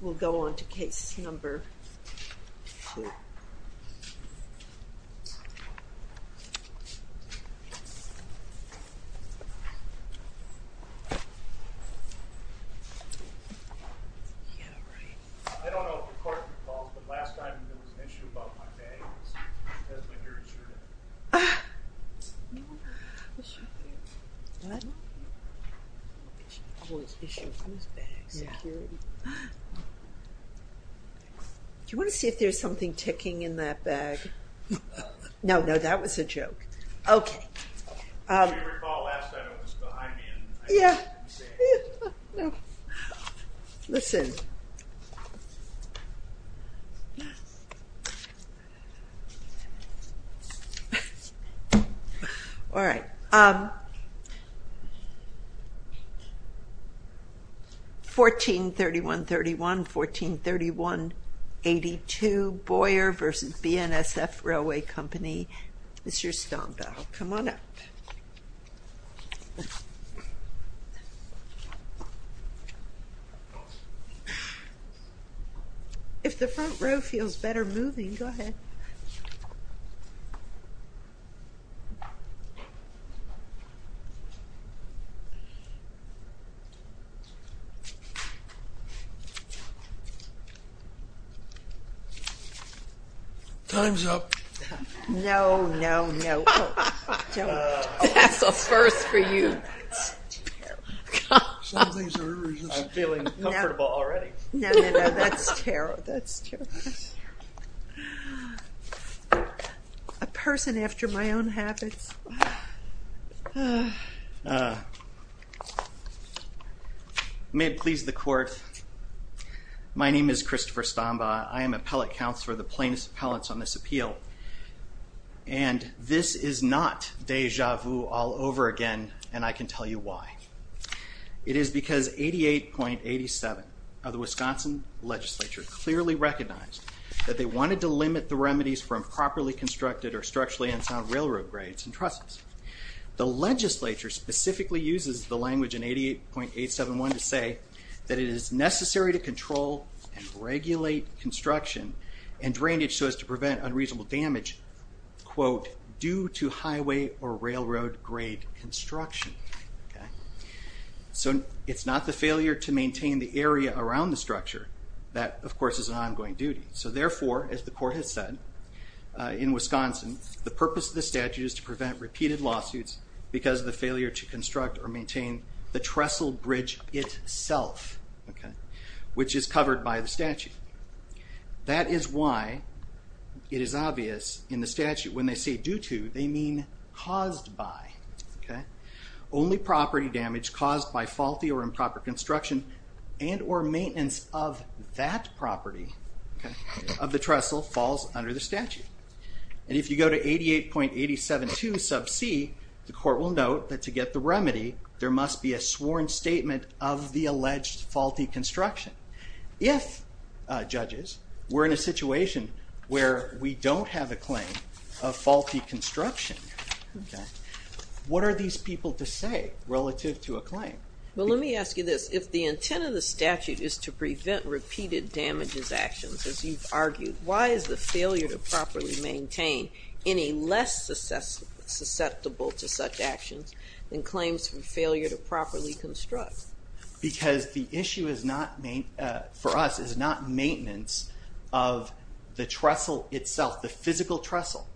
We'll go on to case number two. Do you want to see if there's something ticking in that bag? No, no, that was a joke. Okay. If you recall, last time it was behind me and I couldn't see it. Listen. Alright. Alright. 14-3131, 14-3182 Boyer v. BNSF Railway Company This is your stomp out. Come on up. If the front row feels better moving, go ahead. Time's up. Time's up. No, no, no. That's a first for you. I'm feeling comfortable already. That's terrible. A person after my own habits. May it please the Court, my name is Christopher Stambaugh, I am appellate counselor of the plaintiffs' appellants on this appeal, and this is not deja vu all over again, and I can tell you why. It is because 88.87 of the Wisconsin legislature clearly recognized that they wanted to limit the remedies for improperly constructed or structurally unsound railroad grades and trusses. The legislature specifically uses the language in 88.871 to say that it is necessary to control and regulate construction and drainage so as to prevent unreasonable damage quote, due to highway or railroad grade construction. So it's not the failure to that, of course, is an ongoing duty. So therefore, as the Court has said, in Wisconsin, the purpose of the statute is to prevent repeated lawsuits because of the failure to construct or maintain the trestle bridge itself, which is covered by the statute. That is why it is obvious in the statute when they say due to, they mean caused by. Only property damage caused by faulty or improper construction and or maintenance of that property of the trestle falls under the statute. And if you go to 88.872 sub c, the Court will note that to get the remedy there must be a sworn statement of the alleged faulty construction. If, judges, we're in a situation where we don't have a claim of faulty construction, what are these people to say relative to a claim? Well, let me ask you this. If the intent of the statute is to prevent repeated damages actions, as you've argued, why is the failure to properly maintain any less susceptible to such actions than claims from failure to properly construct? Because the issue is not, for us, is not maintenance of the trestle itself, the physical trestle.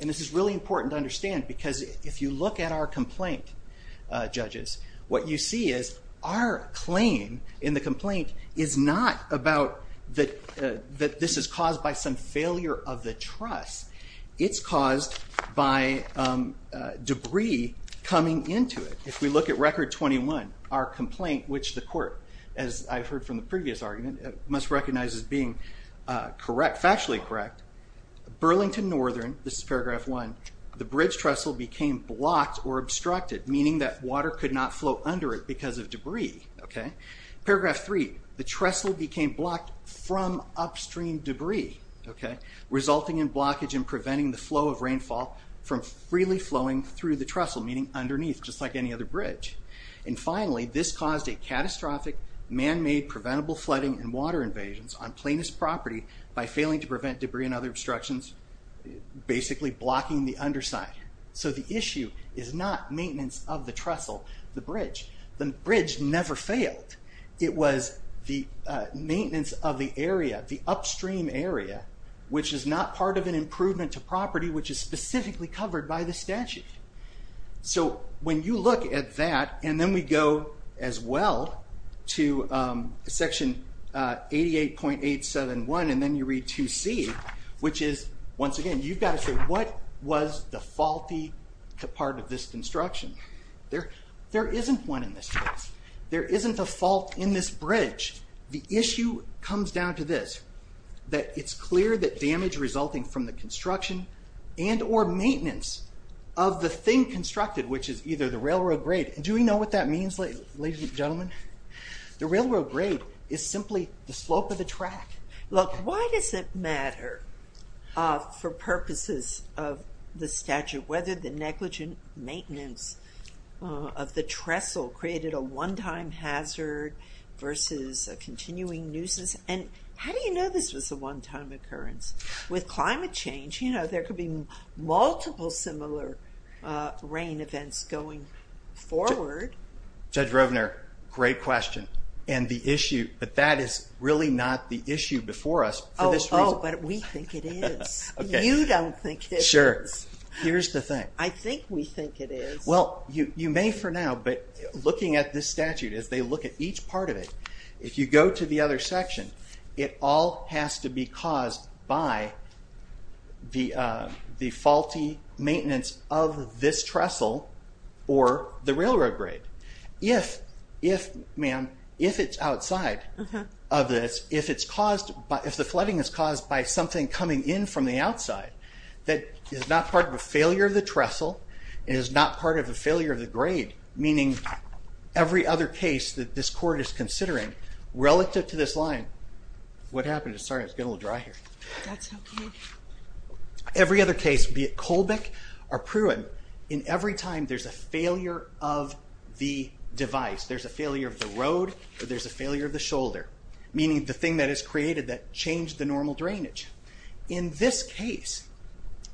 And this is really important to understand because if you look at our complaint judges, what you see is our claim in the complaint is not about that this is caused by some failure of the truss. It's caused by debris coming into it. If we look at Record 21, our complaint, which the Court, as I've heard from the previous argument, must recognize as being correct, factually correct, Burlington Northern, this is Paragraph 1, the bridge trestle became blocked or obstructed, meaning that water could not flow under it because of debris. Paragraph 3, the trestle became blocked from upstream debris, resulting in blockage and preventing the flow of rainfall from freely flowing through the trestle, meaning underneath, just like any other bridge. And finally, this caused a catastrophic, man-made, preventable flooding and water invasions on plaintiff's property by failing to prevent debris and other obstructions, basically blocking the underside. So the issue is not maintenance of the trestle, the bridge. The bridge never failed. It was the maintenance of the area, the upstream area, which is not part of an improvement to property, which is specifically covered by the statute. So when you look at that, and then we go as well to Section 88.871, and then you read 2C, which is once again, you've got to say, what was the faulty part of this construction? There isn't one in this case. There isn't a fault in this bridge. The issue comes down to this, that it's clear that damage resulting from the construction and or maintenance of the thing constructed, which is either the railroad grade, and do we know what that means, ladies and gentlemen? The railroad grade is simply the slope of the track. Look, why does it matter for purposes of the statute whether the negligent maintenance of the trestle created a one-time hazard versus a continuing nuisance? And how do you know this was a one-time occurrence? With climate change, there could be multiple similar rain events going forward. Judge Rovner, great question. And the issue, but that is really not the issue before us for this reason. Oh, but we think it is. You don't think it is. Sure. Here's the thing. I think we think it is. Well, you may for now, but looking at this statute as they look at each part of it, if you go to the other section, it all has to be caused by the faulty maintenance of this trestle or the railroad grade. If, ma'am, if it's outside of this, if the flooding is caused by something coming in from the outside that is not part of a failure of the trestle, is not part of a failure of the grade, meaning every other case that this court is considering relative to this line, what happened? Sorry, it's getting a little dry here. That's okay. Every other case, be it Colbeck or Pruitt, in every time there's a failure of the device, there's a failure of the road, or there's a failure of the shoulder, meaning the thing that is created that changed the normal drainage. In this case,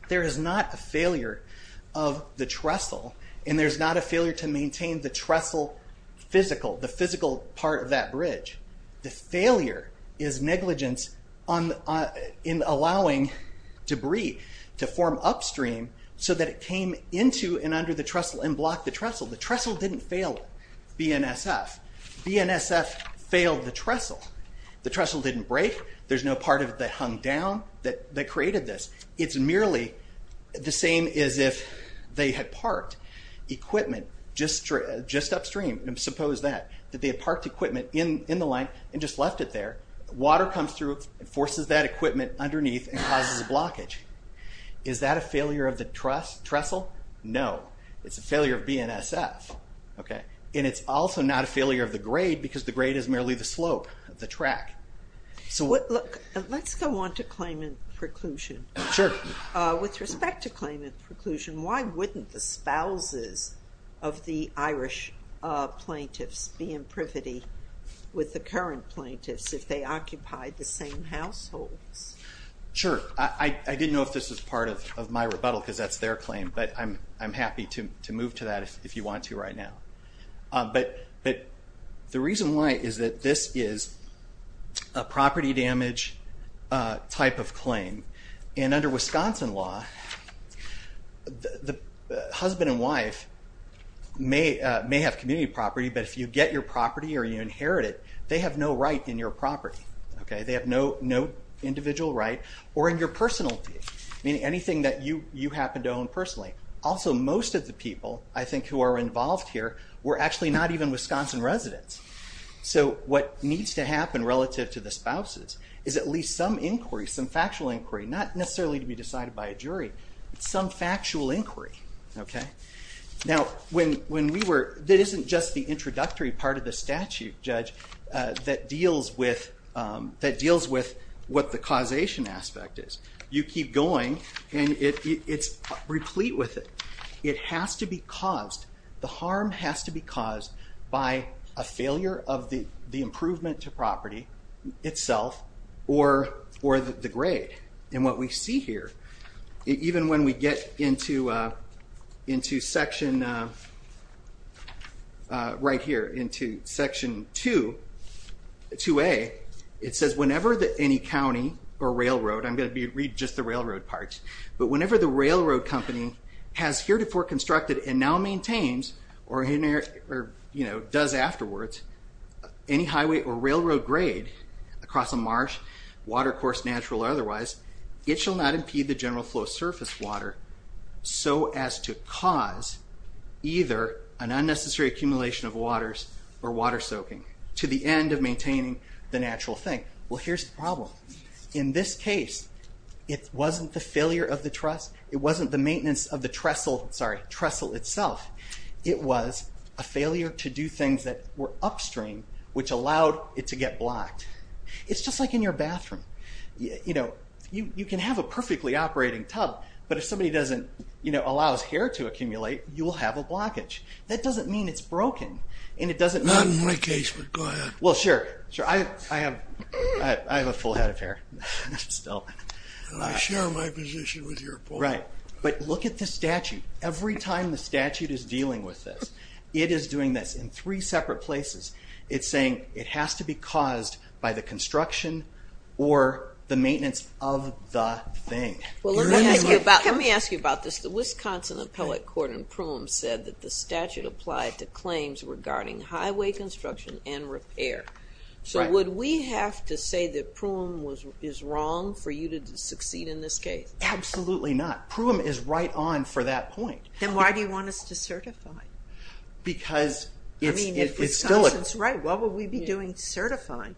there is not a failure of the trestle, and there's not a failure to maintain the trestle physical, the physical part of that bridge. The failure is negligence in allowing debris to form upstream so that it came into and under the trestle and blocked the trestle. The trestle didn't fail BNSF. BNSF failed the trestle. The trestle didn't break. There's no part of it that hung down that created this. It's merely the same as if they had parked equipment just upstream, and suppose that, that they had parked equipment in the line and just left it there. Water comes through and forces that equipment underneath and causes a blockage. Is that a failure of the trestle? No. It's a failure of BNSF. It's also not a failure of the grade because the grade is merely the slope of the track. Let's go on to claimant preclusion. With respect to claimant preclusion, why wouldn't the spouses of the Irish plaintiffs be in privity with the current plaintiffs if they occupied the same households? Sure. I didn't know if this was part of my rebuttal because that's their claim, but I'm happy to move to that if you want to right now. The reason why is that this is a property damage type of claim. And under Wisconsin law, the husband and wife may have community property, but if you get your property or you inherit it, they have no right in your property. They have no individual right or in your personality, meaning anything that you happen to own personally. Also, most of the people, I think, who are involved here were actually not even Wisconsin residents. So what needs to happen relative to the spouses is at least some inquiry, some factual inquiry, not necessarily to be decided by a jury, but some factual inquiry. Now when we were, that isn't just the introductory part of the statute, Judge, that deals with what the causation aspect is. You keep going and it's replete with it. It has to be caused, the harm has to be caused by a failure of the improvement to property itself or the grade. And what we see here, even when we get into section right here, into section 2A, it says whenever any county or railroad, I'm going to read just the railroad parts, but whenever the railroad company has heretofore constructed and now maintains or does afterwards any highway or railroad grade across a marsh, watercourse, natural or otherwise, it shall not impede the general flow of surface water so as to cause either an unnecessary accumulation of waters or water soaking to the end of maintaining the natural thing. Well here's the problem. In this case, it wasn't the failure of the maintenance of the trestle itself. It was a failure to do things that were upstream which allowed it to get blocked. It's just like in your bathroom. You can have a perfectly operating tub, but if somebody doesn't allow its hair to accumulate, you will have a blockage. That doesn't mean it's broken. Not in my case, but go ahead. Well sure. I have a full head of hair. I share my position with your point. Right. But look at the statute. Every time the statute is dealing with this, it is doing this in three separate places. It's saying it has to be caused by the construction or the maintenance of the thing. Let me ask you about this. The Wisconsin Appellate Court in Pruim said that the statute applied to claims regarding highway construction and repair. So would we have to say that Pruim is wrong for you to succeed in this case? Absolutely not. Pruim is right on for that point. Then why do you want us to certify? Because it's still a... If Wisconsin is right, what would we be doing to certify?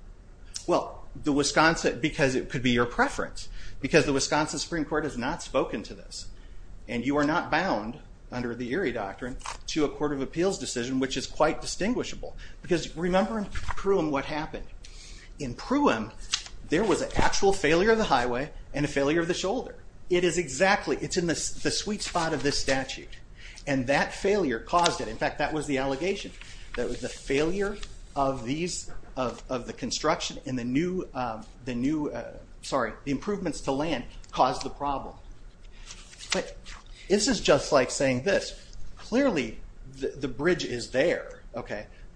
Well, because it could be your preference. Because the Wisconsin Supreme Court has not spoken to this. And you are not bound under the Erie Doctrine to a Court of Appeals decision, which is quite distinguishable. Because remember in Pruim what happened. In Pruim there was an actual failure of the highway and a failure of the shoulder. It is exactly, it's in the sweet spot of this statute. And that failure caused it. In fact, that was the allegation. That was the failure of the construction and the new improvements to land caused the problem. This is just like saying this. Clearly the bridge is there.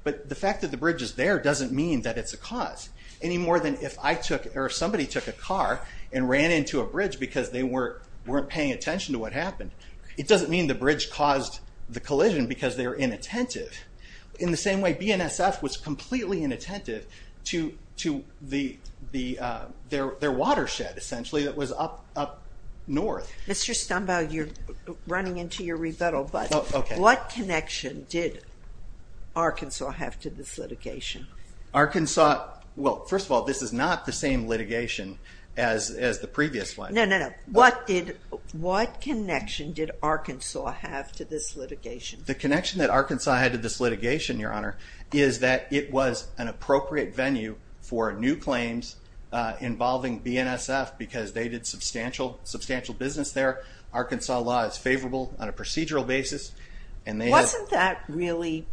But the fact that the bridge is there doesn't mean that it's a cause. Any more than if I took, or if somebody took a car and ran into a bridge because they weren't paying attention to what happened. It doesn't mean the bridge caused the collision because they were inattentive. In the same way BNSF was completely inattentive to their watershed essentially that was up north. What connection did Arkansas have to this litigation? First of all, this is not the same litigation as the previous one. What connection did Arkansas have to this litigation? The connection that Arkansas had to this litigation, Your Honor, is that it was an appropriate venue for new claims involving BNSF because they did substantial business there. Arkansas law is favorable on a procedural basis. Wasn't that really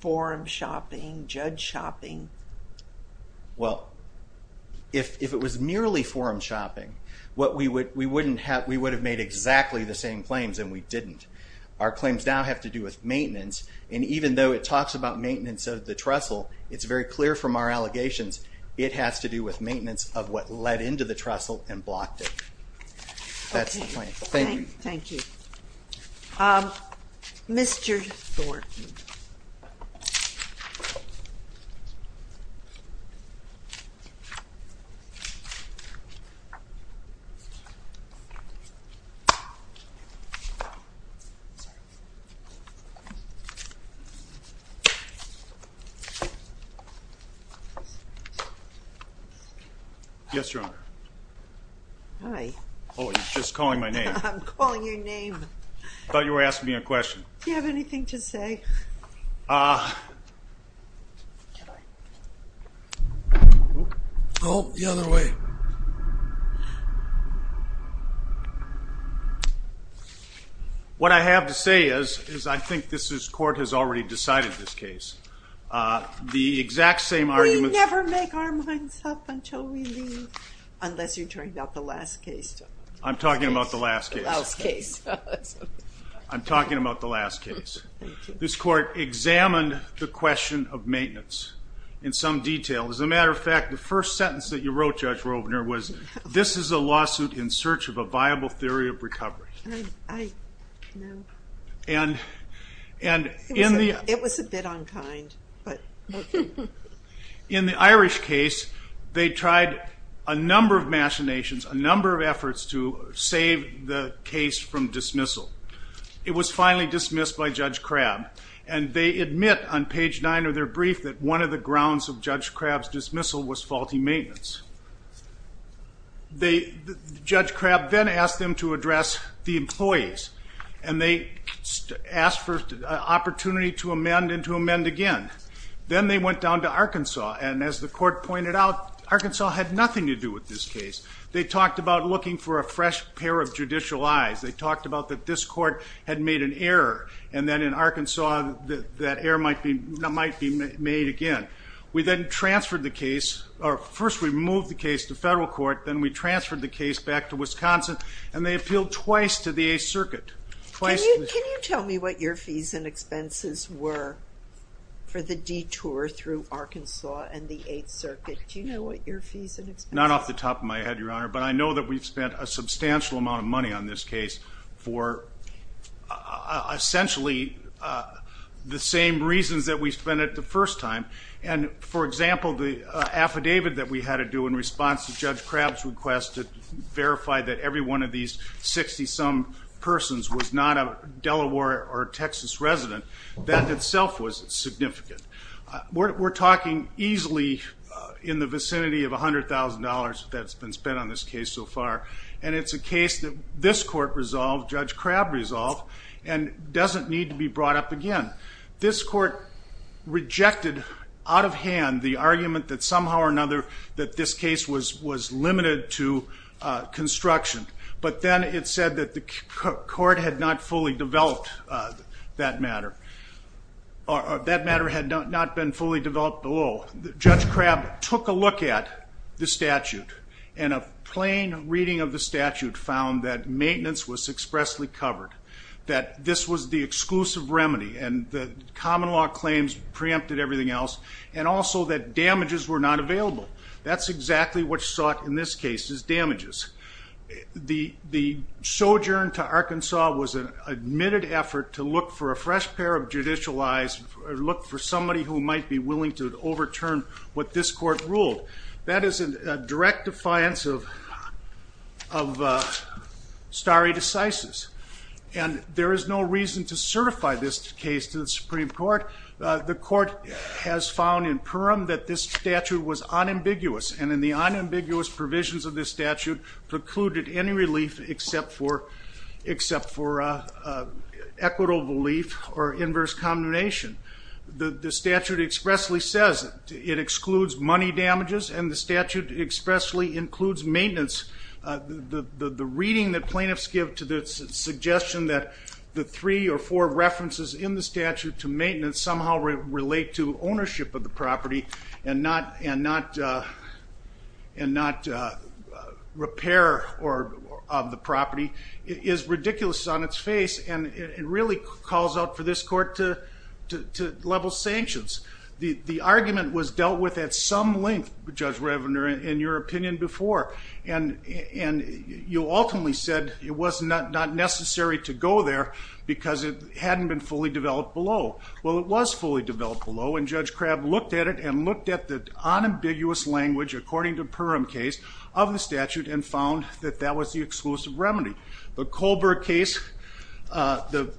forum shopping, judge shopping? Well, if it was merely forum shopping, we would have made exactly the same claims and we didn't. Our claims now have to do with maintenance and even though it talks about maintenance of the trestle, it's very clear from our evidence of what led into the trestle and blocked it. That's the point. Thank you. Mr. Thornton. Yes, Your Honor. Hi. Oh, you're just calling my name. I'm calling your name. I thought you were asking me a question. Do you have anything to say? Oh, the other way. What I have to say is I think this court has already decided this case. The exact same argument... We never make our minds up until we leave, unless you're talking about the last case. I'm talking about the last case. I'm talking about the last case. This court examined the question of maintenance in some detail. As a matter of fact, the first sentence that you wrote, Judge Robner, was this is a lawsuit in search of a viable theory of recovery. It was a bit unkind. In the Irish case, they tried a number of machinations, a number of efforts to save the case from dismissal. It was finally dismissed by Judge Crabb. They admit on page 9 of their brief that one of the grounds of Judge Crabb's dismissal was faulty maintenance. Judge Crabb then asked them to address the employees. They asked for an opportunity to amend and to amend again. Then they went down to Arkansas, and as the court pointed out, Arkansas had nothing to do with this case. They talked about looking for a fresh pair of judicial eyes. They talked about that this court had made an error, and then in Arkansas that error might be made again. We then transferred the case, or first we moved the case to federal court, then we transferred the case back to Wisconsin, and they appealed twice to the 8th Circuit. Can you tell me what your fees and expenses were for the detour through Arkansas and the 8th Circuit? Not off the top of my head, Your Honor, but I know that we've spent a substantial amount of money on this case for essentially the same reasons that we spent it the first time. For example, the affidavit that we had to do in response to Judge Crabb's request to verify that every one of these 60-some persons was not a Delaware or Texas resident, that itself was significant. We're talking easily in the vicinity of $100,000 that's been spent on this case so far, and it's a case that this court resolved, Judge Crabb resolved, and doesn't need to be brought up again. This court rejected out of hand the argument that somehow or another that this case was limited to construction, but then it said that the court had not fully developed that matter, or that matter had not been fully developed below. Judge Crabb took a look at the statute, and a plain reading of the statute found that maintenance was expressly covered, that this was the exclusive remedy, and that common law claims preempted everything else, and also that damages were not available. That's exactly what's in this case is damages. The sojourn to Arkansas was an admitted effort to look for a fresh pair of judicial eyes, look for somebody who might be willing to overturn what this court ruled. That is a direct defiance of stare decisis, and there is no reason to certify this case to the Supreme Court. The court has found in Purim that this statute was unambiguous, and in the unambiguous provisions of this statute precluded any relief except for equitable relief or inverse combination. The statute expressly says it excludes money damages, and the statute expressly includes maintenance. The reading that plaintiffs give to the suggestion that the three or four references in the statute to maintenance somehow relate to ownership of the property and not repair of the property is ridiculous on its face, and it really calls out for this court to level sanctions. The argument was dealt with at some length, Judge Revenner, in your opinion before, and you ultimately said it was not necessary to go there because it hadn't been fully developed below. Well, it was fully developed below, and Judge Crabb looked at it and looked at the unambiguous language according to Purim case of the statute and found that that was the exclusive remedy. The Colberg case, the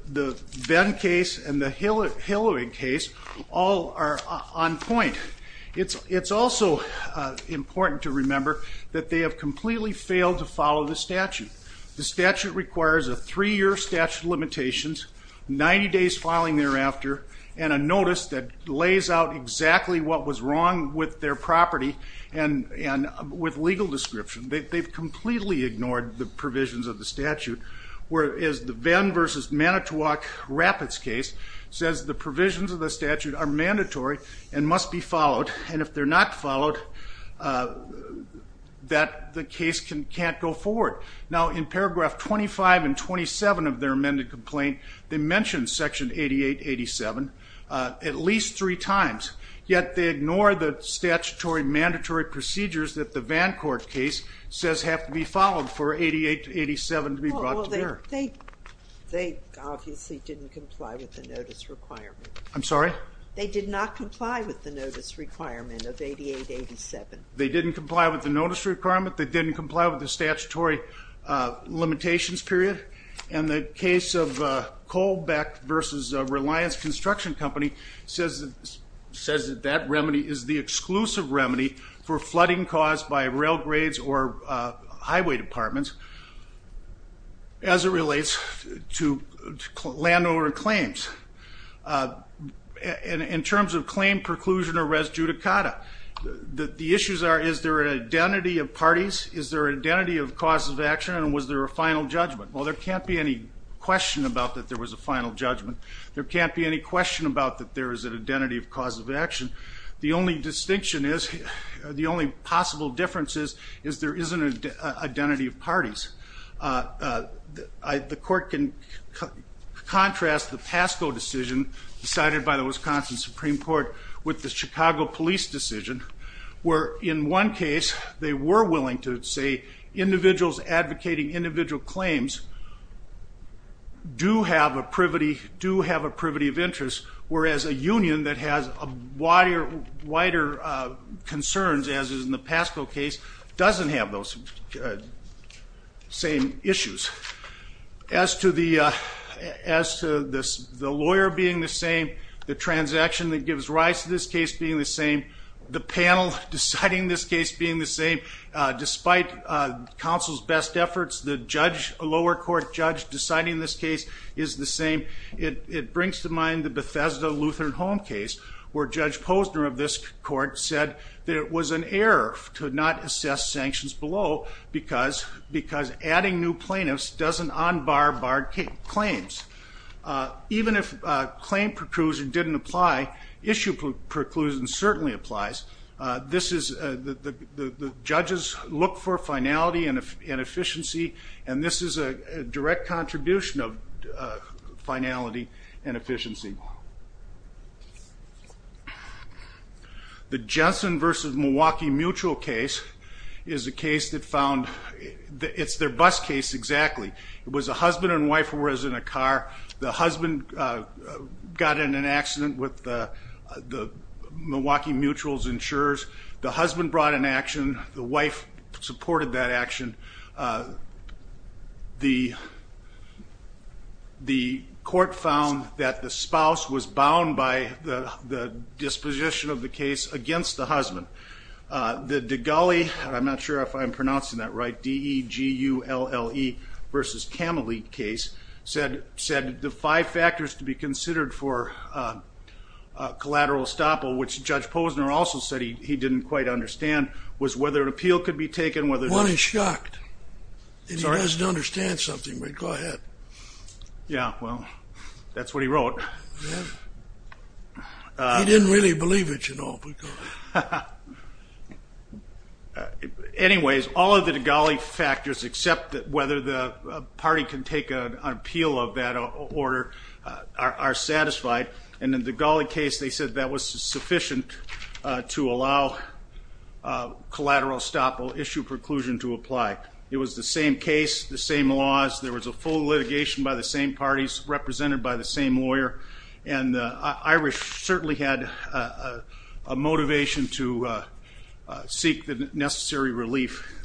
Benn case, and the Hilliard case all are on point. It's also important to remember that they have completely failed to follow the statute. The statute requires a three-year statute of limitations, 90 days filing thereafter, and a notice that lays out exactly what was wrong with their property and with legal description. They've completely ignored the provisions of the statute, whereas the Benn v. Manitowoc Rapids case says the provisions of the statute are mandatory and must be followed, and if they're not followed that the case can't go forward. Now, in paragraph 25 and 27 of their amended complaint they mention section 88-87 at least three times, yet they ignore the statutory mandatory procedures that the Van Court case says have to be followed for 88-87 to be brought to bear. They obviously didn't comply with the notice requirement. I'm sorry? They did not comply with the notice requirement of 88-87. They didn't comply with the notice requirement, they didn't comply with the statutory limitations period, and the case of Kohlbeck v. Reliance Construction Company says that that remedy is the exclusive remedy for flooding caused by rail grades or highway departments as it relates to landowner claims. In terms of claim preclusion or res judicata, the issues are is there an identity of parties, is there an identity of causes of action, and was there a final judgment? Well, there can't be any question about that there was a final judgment. There can't be any question about that there is an identity of causes of action. The only distinction is, the only possible difference is there isn't an identity of parties. The court can contrast the Pasco decision decided by the Wisconsin Supreme Court with the Chicago Police decision, where in one case they were advocating individual claims, do have a privity of interest, whereas a union that has wider concerns, as is in the Pasco case, doesn't have those same issues. As to the lawyer being the same, the transaction that gives rise to this case being the same, the panel deciding this case being the same, despite counsel's best efforts, the lower court judge deciding this case is the same, it brings to mind the Bethesda Lutheran Home case, where Judge Posner of this court said that it was an error to not assess sanctions below because adding new plaintiffs doesn't unbar barred claims. Even if claim preclusion didn't apply, issue preclusion certainly applies. The judges look for finality and efficiency, and this is a direct contribution of finality and efficiency. The Jensen versus Milwaukee Mutual case is a case that found, it's their bus case exactly. It was a husband and wife who were in a car, the husband got in an accident with Milwaukee Mutual's insurers, the husband brought an action, the wife supported that action. The court found that the spouse was bound by the disposition of the case against the husband. The Degulli, I'm not sure if I'm pronouncing that right, D-E-G-U-L-L-E versus Camelot case, said the five factors to be considered for collateral estoppel, which Judge Posner also said he didn't quite understand, was whether an appeal could be taken. One is shocked. He doesn't understand something, but go ahead. That's what he wrote. He didn't really believe it, you know. Anyways, all of the Degulli factors except whether the party can take an appeal of that order are satisfied, and in the Degulli case they said that was sufficient to allow collateral estoppel issue preclusion to apply. It was the same case, the same laws, there was a full litigation by the same parties represented by the same lawyer and the Irish certainly had a motivation to seek the necessary relief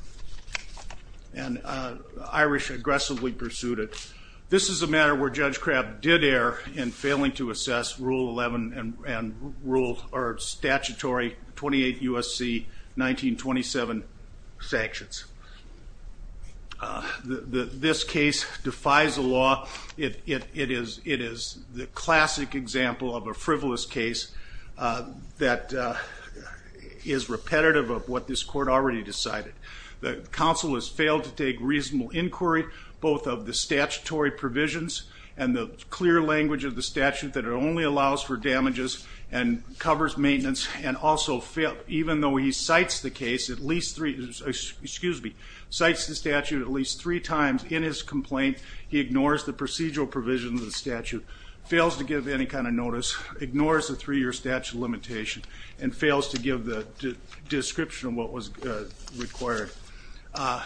and the Irish aggressively pursued it. This is a matter where Judge Crabb did err in failing to assess Rule 11 and statutory 28 U.S.C. 1927 sanctions. This case defies the law. It is the classic example of a frivolous case that is repetitive of what this court already decided. The counsel has failed to take reasonable inquiry both of the statutory provisions and the clear language of the statute that it only allows for damages and covers maintenance and also even though he cites the case at least three times in his complaint he ignores the procedural provisions of the statute, fails to give any kind of notice, ignores the three year statute limitation, and fails to give the description of what was required.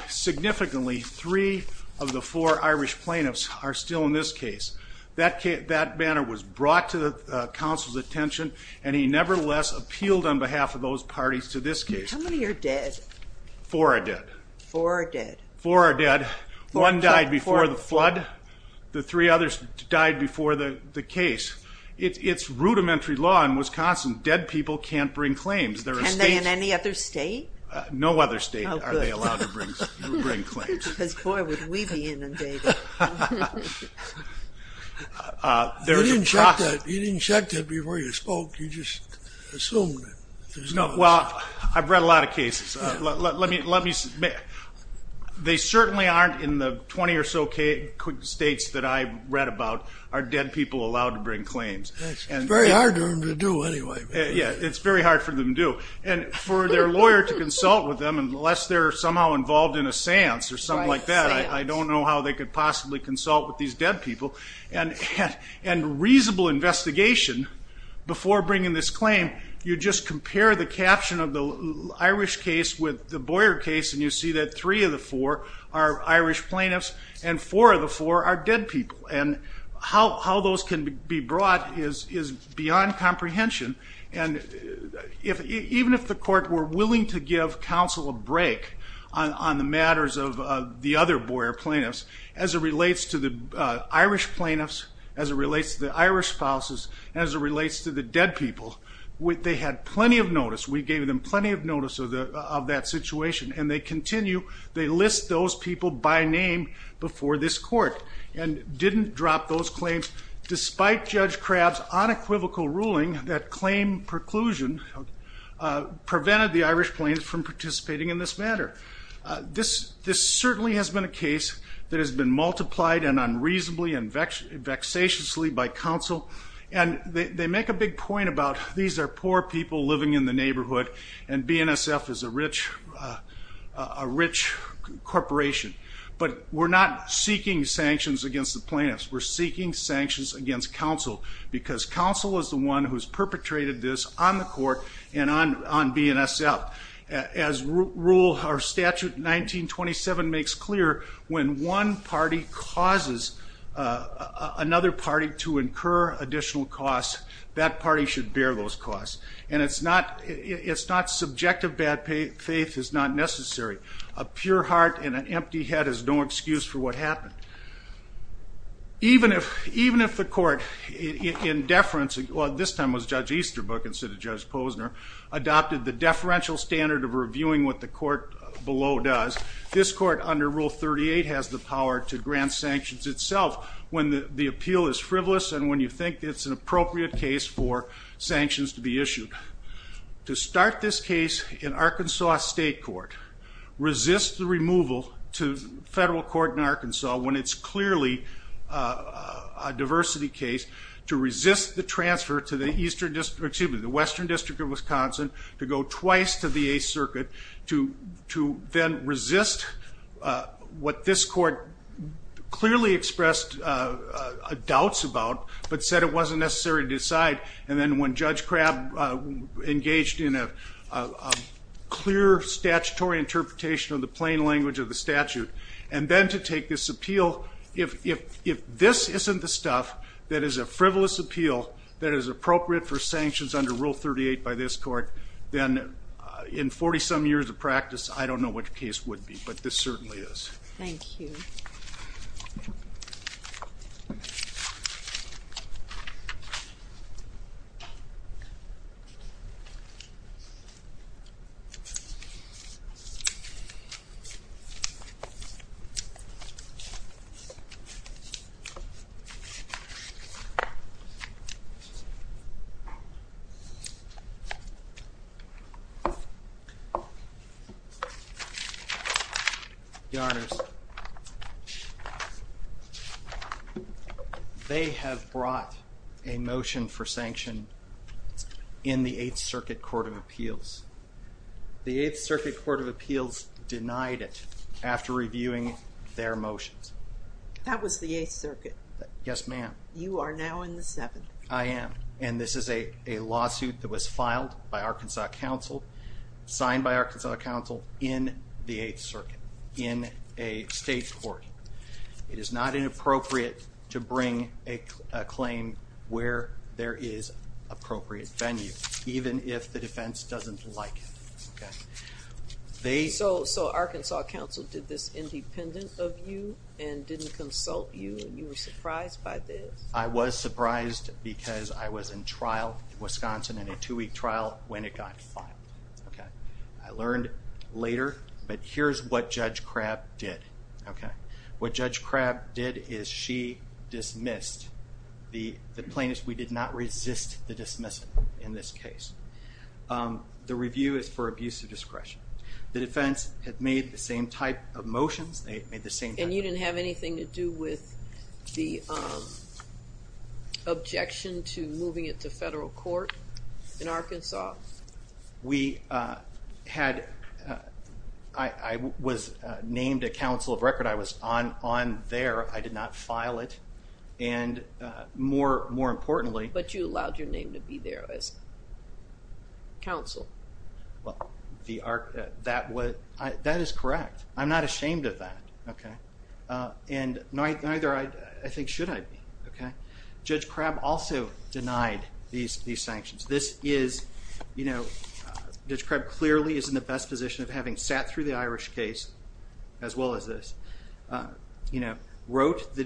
Significantly, three of the four Irish plaintiffs are still in this case. That manner was brought to the counsel's attention and he nevertheless appealed on behalf of those parties to this case. How many are dead? Four are dead. Four are dead. One died before the flood. The three others died before the case. It's rudimentary law in Wisconsin. Dead people can't bring claims. Can they in any other state? No other state are they allowed to bring claims. Boy, would we be inundated. You didn't check that before you spoke. You just assumed it. I've read a lot of cases. They certainly aren't in the twenty or so states that I've read about are dead people allowed to bring claims. It's very hard for them to do anyway. It's very hard for them to do. For their lawyer to consult with them unless they're somehow involved in a seance or something like that, I don't know how they could possibly consult with these dead people. Reasonable investigation before bringing this claim, you just compare the caption of the Irish case with the Boyer case and you see that three of the four are Irish plaintiffs and four of the four are dead people. How those can be brought is beyond comprehension. Even if the court were willing to give counsel a break on the matters of the other Boyer plaintiffs as it relates to the Irish plaintiffs, as it relates to the Irish spouses, as it relates to the dead people, they had plenty of notice. We gave them plenty of notice of that situation. They continue, they list those people by name before this court and didn't drop those claims despite Judge McClain preclusion prevented the Irish plaintiffs from participating in this matter. This certainly has been a case that has been multiplied and unreasonably and vexatiously by counsel and they make a big point about these are poor people living in the neighborhood and BNSF is a rich corporation. But we're not seeking sanctions against the plaintiffs. We're seeking sanctions against counsel because counsel is the one who's perpetrated this on the court and on BNSF. As rule, our statute 1927 makes clear when one party causes another party to incur additional costs that party should bear those costs. And it's not subjective bad faith is not necessary. A pure heart and an empty head is no excuse for what happened. Even if the court in deference, well this time it was Judge Easterbrook instead of Judge Posner, adopted the deferential standard of reviewing what the court below does this court under rule 38 has the power to grant sanctions itself when the appeal is frivolous and when you think it's an appropriate case for sanctions to be issued. To start this case in Arkansas State Court, resist the removal to when it's clearly a diversity case, to resist the transfer to the Western District of Wisconsin to go twice to the 8th Circuit to then resist what this court clearly expressed doubts about but said it wasn't necessary to decide and then when Judge Crabb engaged in a clear statutory interpretation of the plain language of the statute and then to take this appeal if this isn't the stuff that is a frivolous appeal that is appropriate for sanctions under rule 38 by this court then in 40 some years of practice I don't know what the case would be but this certainly is. The honors. They have brought a motion for sanction in the 8th Circuit Court of Appeals. The 8th Circuit Court of Appeals denied it after reviewing their motions. That was the 8th Circuit. Yes ma'am. You are now in the 7th. I am and this is a lawsuit that was filed by Arkansas Council, signed by Arkansas Council in the 8th Circuit in a state court. It is not inappropriate to bring a claim where there is appropriate venue even if the defense doesn't like it. So Arkansas Council did this independent of you and didn't consult you and you were surprised by this? I was surprised because I was in trial in Wisconsin in a two week trial when it got filed. I learned later but here is what Judge Crabb did. What Judge Crabb did is she dismissed the plaintiffs. We did not resist the dismissal in this case. The review is for abuse of discretion. The defense had made the same type of motions. And you didn't have anything to do with the objection to moving it to federal court in Arkansas? We had, I was named a counsel of record. I was on there. I did not file it and more importantly. But you allowed your name to be there as counsel. That is correct. I'm not ashamed of that. And neither I think should I be. Judge Crabb also denied these sanctions. This is, you know, Judge Crabb clearly is in the best position of having sat through the Irish case as well as this. You know, wrote the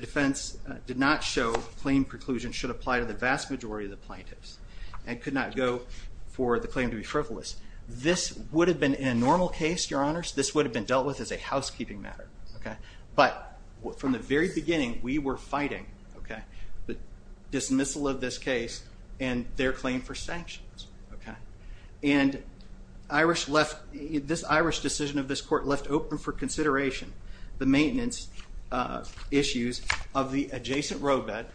defense did not show claim preclusion should apply to the vast majority of the plaintiffs. And could not go for the claim to be frivolous. This would have been a normal case, your honors. This would have been dealt with as a housekeeping matter. But from the very beginning we were fighting the dismissal of this case and their claim for sanctions. And Irish left, this Irish decision of this court left open for consideration the maintenance issues of the adjacent roadbed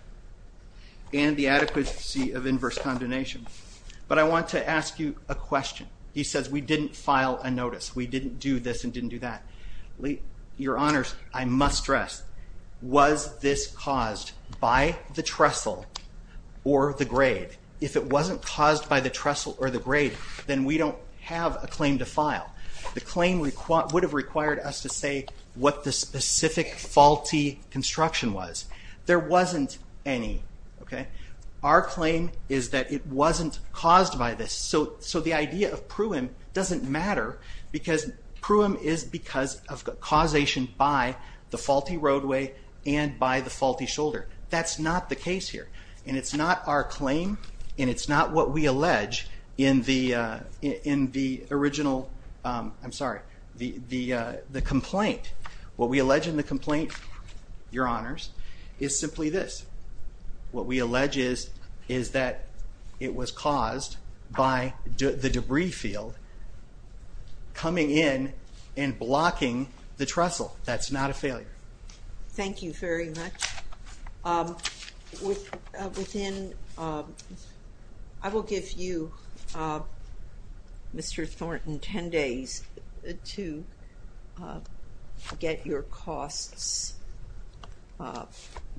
and the adequacy of inverse condemnation. But I want to ask you a question. He says we didn't file a notice. We didn't do this and didn't do that. Your honors, I must stress was this caused by the trestle or the grade? If it wasn't caused by the trestle or the grade, then we don't have a claim to file. The claim would have required us to say what the specific faulty construction was. There wasn't any. Our claim is that it wasn't caused by this. So the idea of pruim doesn't matter because pruim is because of causation by the faulty roadway and by the faulty shoulder. That's not the case here. And it's not our claim and it's not what we allege in the original complaint. What we allege in the complaint, your honors, is simply this. What we allege is that it was caused by the debris field coming in and blocking the trestle. That's not a failure. Thank you very much. I will give you Mr. Thornton 10 days to get your costs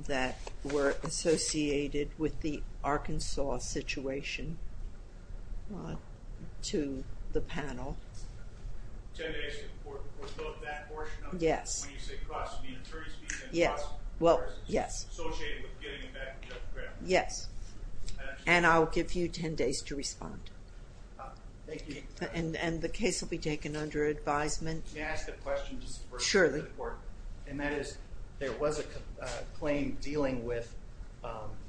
that were associated with the Arkansas situation to the panel. Yes. Yes. And I'll give you 10 days to respond. And the case will be taken under advisement. And that is there was a claim dealing with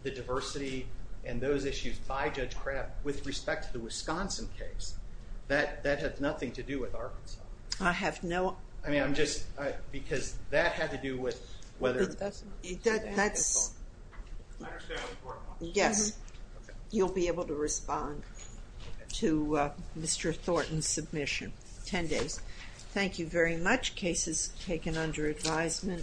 the diversity and those issues by Judge Kraft with respect to the Wisconsin case. That had nothing to do with Arkansas. I have no... That's... Yes. You'll be able to respond to Mr. Thornton's submission. 10 days. Thank you very much. Case is taken under advisement.